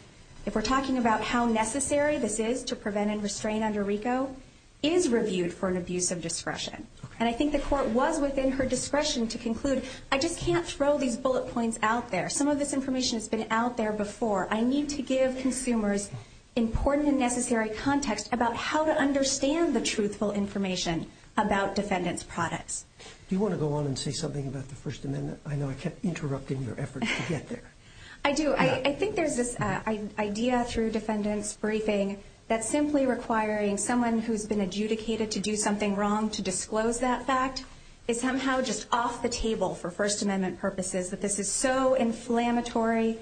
if we're talking about how necessary this is to prevent and restrain under RICO, is reviewed for an abuse of discretion. And I think the court was within her discretion to conclude, I just can't throw these bullet points out there. Some of this information has been out there before. I need to give consumers important and necessary context about how to understand the truthful information about defendants' products. Do you want to go on and say something about the First Amendment? I know I kept interrupting your efforts to get there. I do. I think there's this idea through defendants' briefing that simply requiring someone who's been adjudicated to do something wrong to disclose that fact is somehow just off the table for First Amendment purposes. That this is so inflammatory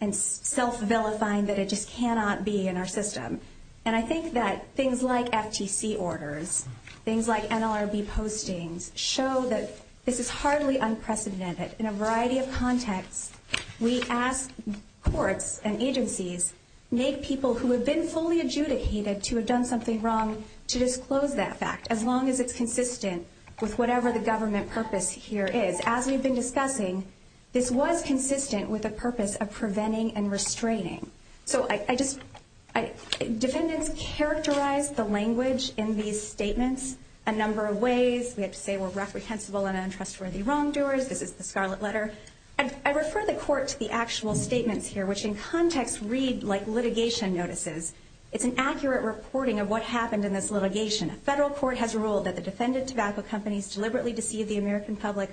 and self-vilifying that it just cannot be in our system. And I think that things like FTC orders, things like NLRB postings, show that this is hardly unprecedented. In a variety of contexts, we ask courts and agencies, make people who have been fully adjudicated to have done something wrong, to disclose that fact, as long as it's consistent with whatever the government purpose here is. As we've been discussing, this was consistent with a purpose of preventing and restraining. So defendants characterized the language in these statements a number of ways. We have to say we're reprehensible and untrustworthy wrongdoers. This is the Scarlet Letter. I refer the court to the actual statements here, which in context read like litigation notices. It's an accurate reporting of what happened in this litigation. A federal court has ruled that the defendant tobacco companies deliberately deceive the American public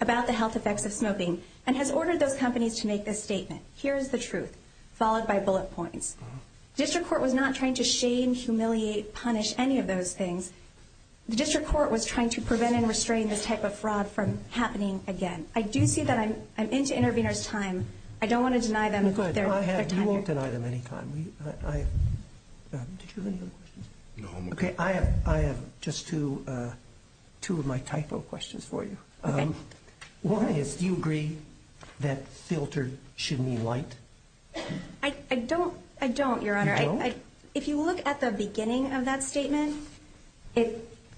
about the health effects of smoking and has ordered those companies to make this statement. Here is the truth, followed by bullet points. District Court was not trying to shame, humiliate, punish any of those things. The District Court was trying to prevent and restrain this type of fraud from happening again. I do see that I'm into interveners' time. I don't want to deny them their time. Did you have any other questions? No. Okay, I have just two of my typo questions for you. Okay. One is do you agree that filtered should mean light? I don't, Your Honor. You don't? If you look at the beginning of that statement,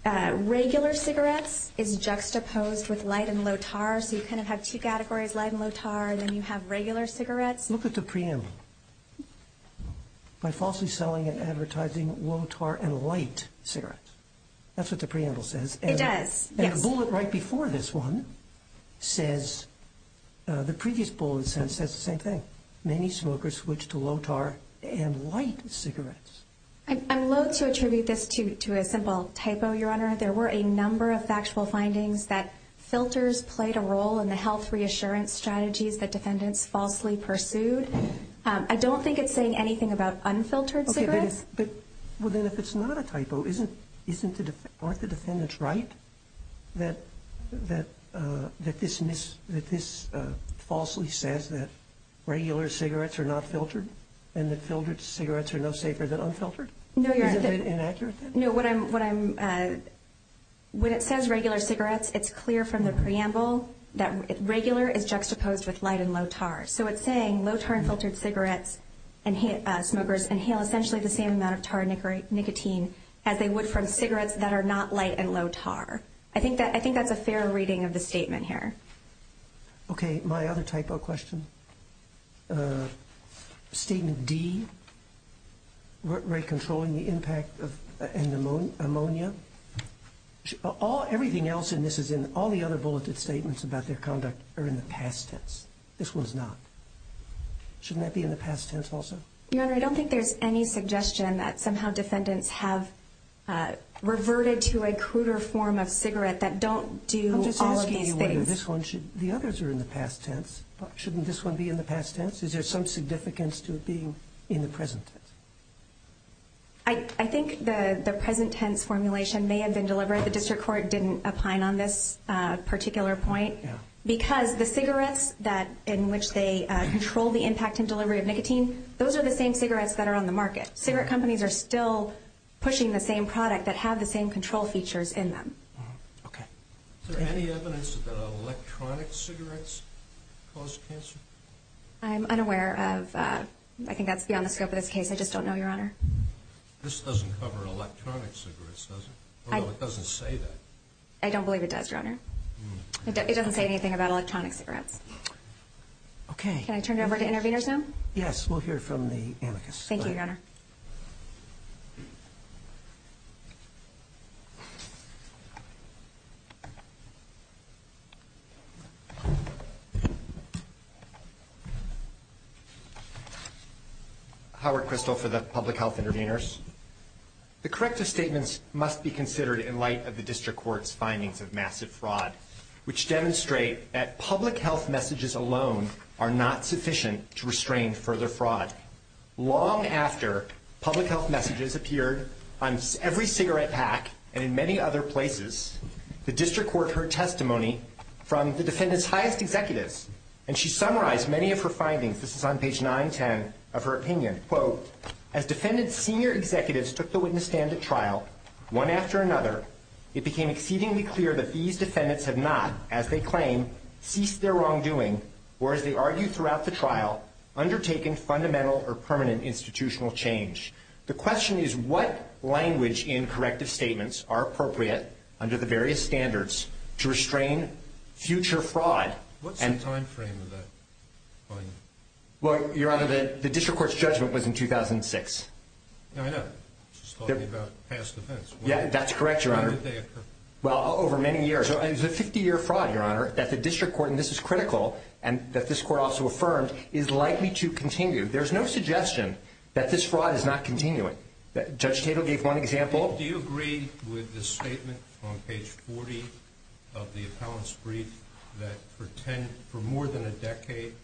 regular cigarettes is juxtaposed with light and low tar, so you kind of have two categories, light and low tar, and then you have regular cigarettes. Look at the preamble. By falsely selling and advertising low tar and light cigarettes. That's what the preamble says. It does, yes. And the bullet right before this one says, the previous bullet says the same thing. Many smokers switch to low tar and light cigarettes. I'm loathe to attribute this to a simple typo, Your Honor. There were a number of factual findings that filters played a role in the health reassurance strategies that defendants falsely pursued. I don't think it's saying anything about unfiltered cigarettes. Okay, but if it's not a typo, aren't the defendants right that this falsely says that regular cigarettes are not filtered and that filtered cigarettes are no safer than unfiltered? No, Your Honor. Is it inaccurate? No. When it says regular cigarettes, it's clear from the preamble that regular is juxtaposed with light and low tar. So it's saying low tar and filtered cigarettes, smokers inhale essentially the same amount of tar and nicotine as they would from cigarettes that are not light and low tar. I think that's a fair reading of the statement here. Okay. My other typo question. Statement D, rate controlling the impact and ammonia. Everything else in this as in all the other bulleted statements about their conduct are in the past tense. This one's not. Shouldn't that be in the past tense also? Your Honor, I don't think there's any suggestion that somehow defendants have reverted to a cruder form of cigarette that don't do all of these things. The others are in the past tense. Shouldn't this one be in the past tense? Is there some significance to it being in the present tense? I think the present tense formulation may have been deliberate. The district court didn't opine on this particular point because the cigarettes in which they control the impact and delivery of nicotine, those are the same cigarettes that are on the market. Cigarette companies are still pushing the same product that have the same control features in them. Okay. Is there any evidence that electronic cigarettes cause cancer? I'm unaware of that. I think that's beyond the scope of this case. I just don't know, Your Honor. This doesn't cover electronic cigarettes, does it? It doesn't say that. I don't believe it does, Your Honor. It doesn't say anything about electronic cigarettes. Okay. Can I turn it over to interveners now? Yes. We'll hear from the amicus. Thank you, Your Honor. Howard Crystal for the public health interveners. The corrective statements must be considered in light of the district court's findings of massive fraud, which demonstrate that public health messages alone are not sufficient to restrain further fraud. Long after public health messages appeared on every cigarette pack and in many other places, the district court heard testimony from the defendant's highest executives, and she summarized many of her findings. This is on page 910 of her opinion. Quote, as defendant's senior executives took the witness stand at trial, one after another, it became exceedingly clear that these defendants have not, as they claim, ceased their wrongdoing, or as they argue throughout the trial, undertaken fundamental or permanent institutional change. The question is, what language in corrective statements are appropriate under the various standards to restrain future fraud? What's the time frame of that? Well, Your Honor, the district court's judgment was in 2006. I know. She's talking about past events. Yeah, that's correct, Your Honor. When did they occur? Well, over many years. It was a 50-year fraud, Your Honor, that the district court, and this is critical, and that this court also affirmed, is likely to continue. There's no suggestion that this fraud is not continuing. Judge Tatel gave one example. Do you agree with the statement on page 40 of the appellant's brief that for more than a decade,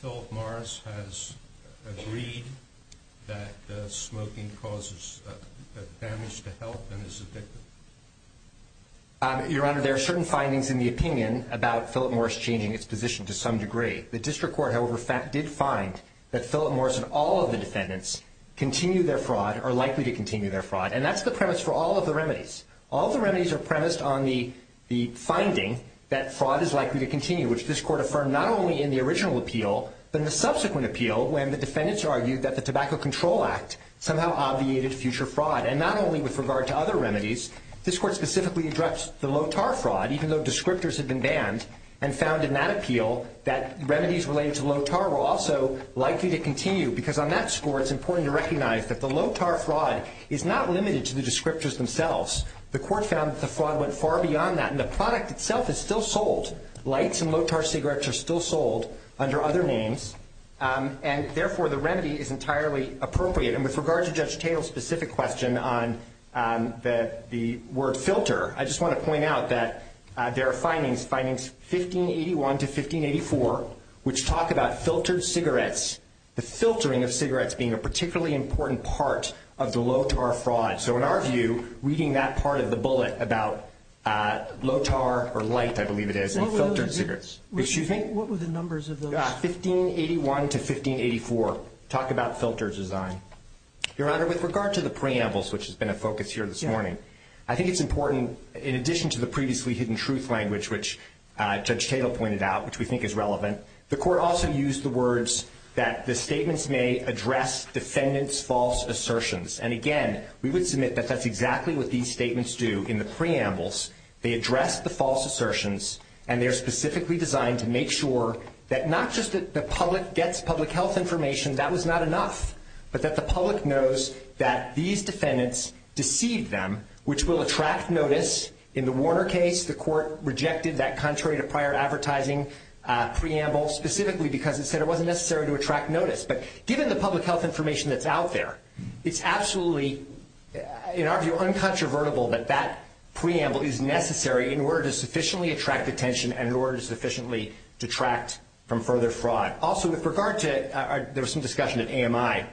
Philip Morris has agreed that smoking causes damage to health and is addictive? Your Honor, there are certain findings in the opinion about Philip Morris changing its position to some degree. The district court, however, did find that Philip Morris and all of the defendants continue their fraud, are likely to continue their fraud, and that's the premise for all of the remedies. All of the remedies are premised on the finding that fraud is likely to continue, which this court affirmed not only in the original appeal but in the subsequent appeal when the defendants argued that the Tobacco Control Act somehow obviated future fraud. And not only with regard to other remedies, this court specifically addressed the Lotar fraud, even though descriptors had been banned, and found in that appeal that remedies related to Lotar were also likely to continue. Because on that score, it's important to recognize that the Lotar fraud is not limited to the descriptors themselves. The court found that the fraud went far beyond that, and the product itself is still sold. Lights and Lotar cigarettes are still sold under other names, and therefore the remedy is entirely appropriate. And with regard to Judge Tatel's specific question on the word filter, I just want to point out that there are findings, findings 1581 to 1584, which talk about filtered cigarettes, the filtering of cigarettes being a particularly important part of the Lotar fraud. So in our view, reading that part of the bullet about Lotar, or light I believe it is, and filtered cigarettes. What were the numbers of those? 1581 to 1584 talk about filter design. Your Honor, with regard to the preambles, which has been a focus here this morning, I think it's important in addition to the previously hidden truth language, which Judge Tatel pointed out, which we think is relevant, the court also used the words that the statements may address defendant's false assertions. And again, we would submit that that's exactly what these statements do in the preambles. They address the false assertions, and they're specifically designed to make sure that not just the public gets public health information, that was not enough, but that the public knows that these defendants deceived them, which will attract notice. In the Warner case, the court rejected that contrary to prior advertising preamble, specifically because it said it wasn't necessary to attract notice. But given the public health information that's out there, it's absolutely, in our view, uncontrovertible that that preamble is necessary in order to sufficiently attract attention and in order to sufficiently detract from further fraud. Also, with regard to, there was some discussion at AMI.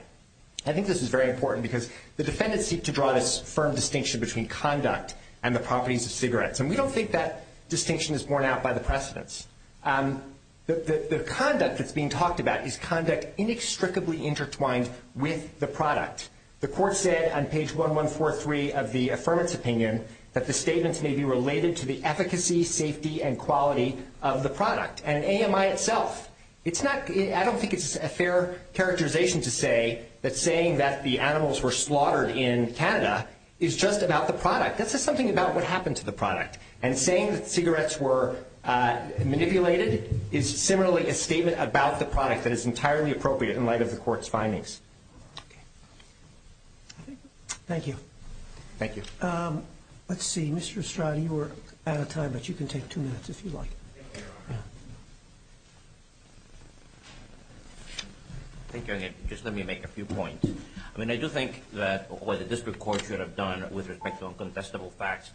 I think this is very important because the defendants seek to draw this firm distinction between conduct and the properties of cigarettes. And we don't think that distinction is borne out by the precedents. The conduct that's being talked about is conduct inextricably intertwined with the product. The court said on page 1143 of the affirmance opinion that the statements may be related to the efficacy, safety, and quality of the product. And AMI itself, it's not, I don't think it's a fair characterization to say that saying that the animals were slaughtered in Canada is just about the product. That says something about what happened to the product. And saying that cigarettes were manipulated is similarly a statement about the product that is entirely appropriate in light of the court's findings. Thank you. Thank you. Let's see. Mr. Estrada, you were out of time, but you can take two minutes if you like. Thank you. Just let me make a few points. I mean, I do think that what the district court should have done with respect to uncontestable facts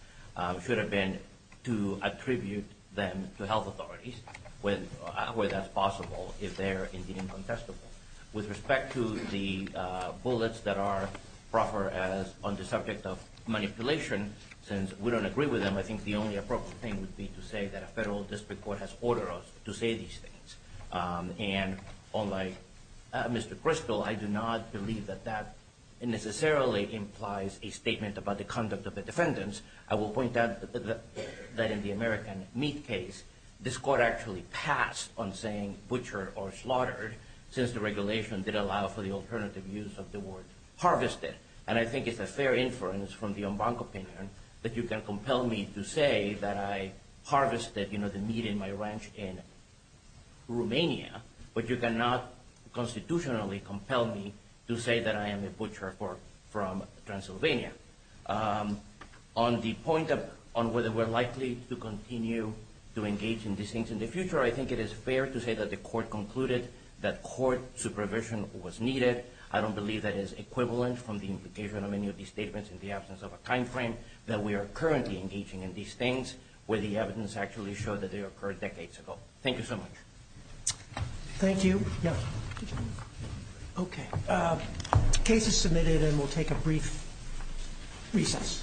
should have been to attribute them to health authorities, where that's possible if they're indeed uncontestable. With respect to the bullets that are proper as on the subject of manipulation, since we don't agree with them, I think the only appropriate thing would be to say that a federal district court has ordered us to say these things. And unlike Mr. Crystal, I do not believe that that necessarily implies a statement about the conduct of the defendants. I will point out that in the American meat case, this court actually passed on saying butcher or slaughtered, since the regulation did allow for the alternative use of the word harvested. And I think it's a fair inference from the Embanco opinion that you can compel me to say that I harvested the meat in my ranch in Romania, but you cannot constitutionally compel me to say that I am a butcher from Transylvania. On the point on whether we're likely to continue to engage in these things in the future, I think it is fair to say that the court concluded that court supervision was needed. I don't believe that is equivalent from the implication of any of these statements in the absence of a time frame that we are currently engaging in these things where the evidence actually showed that they occurred decades ago. Thank you so much. Thank you. Okay. Case is submitted and we'll take a brief recess.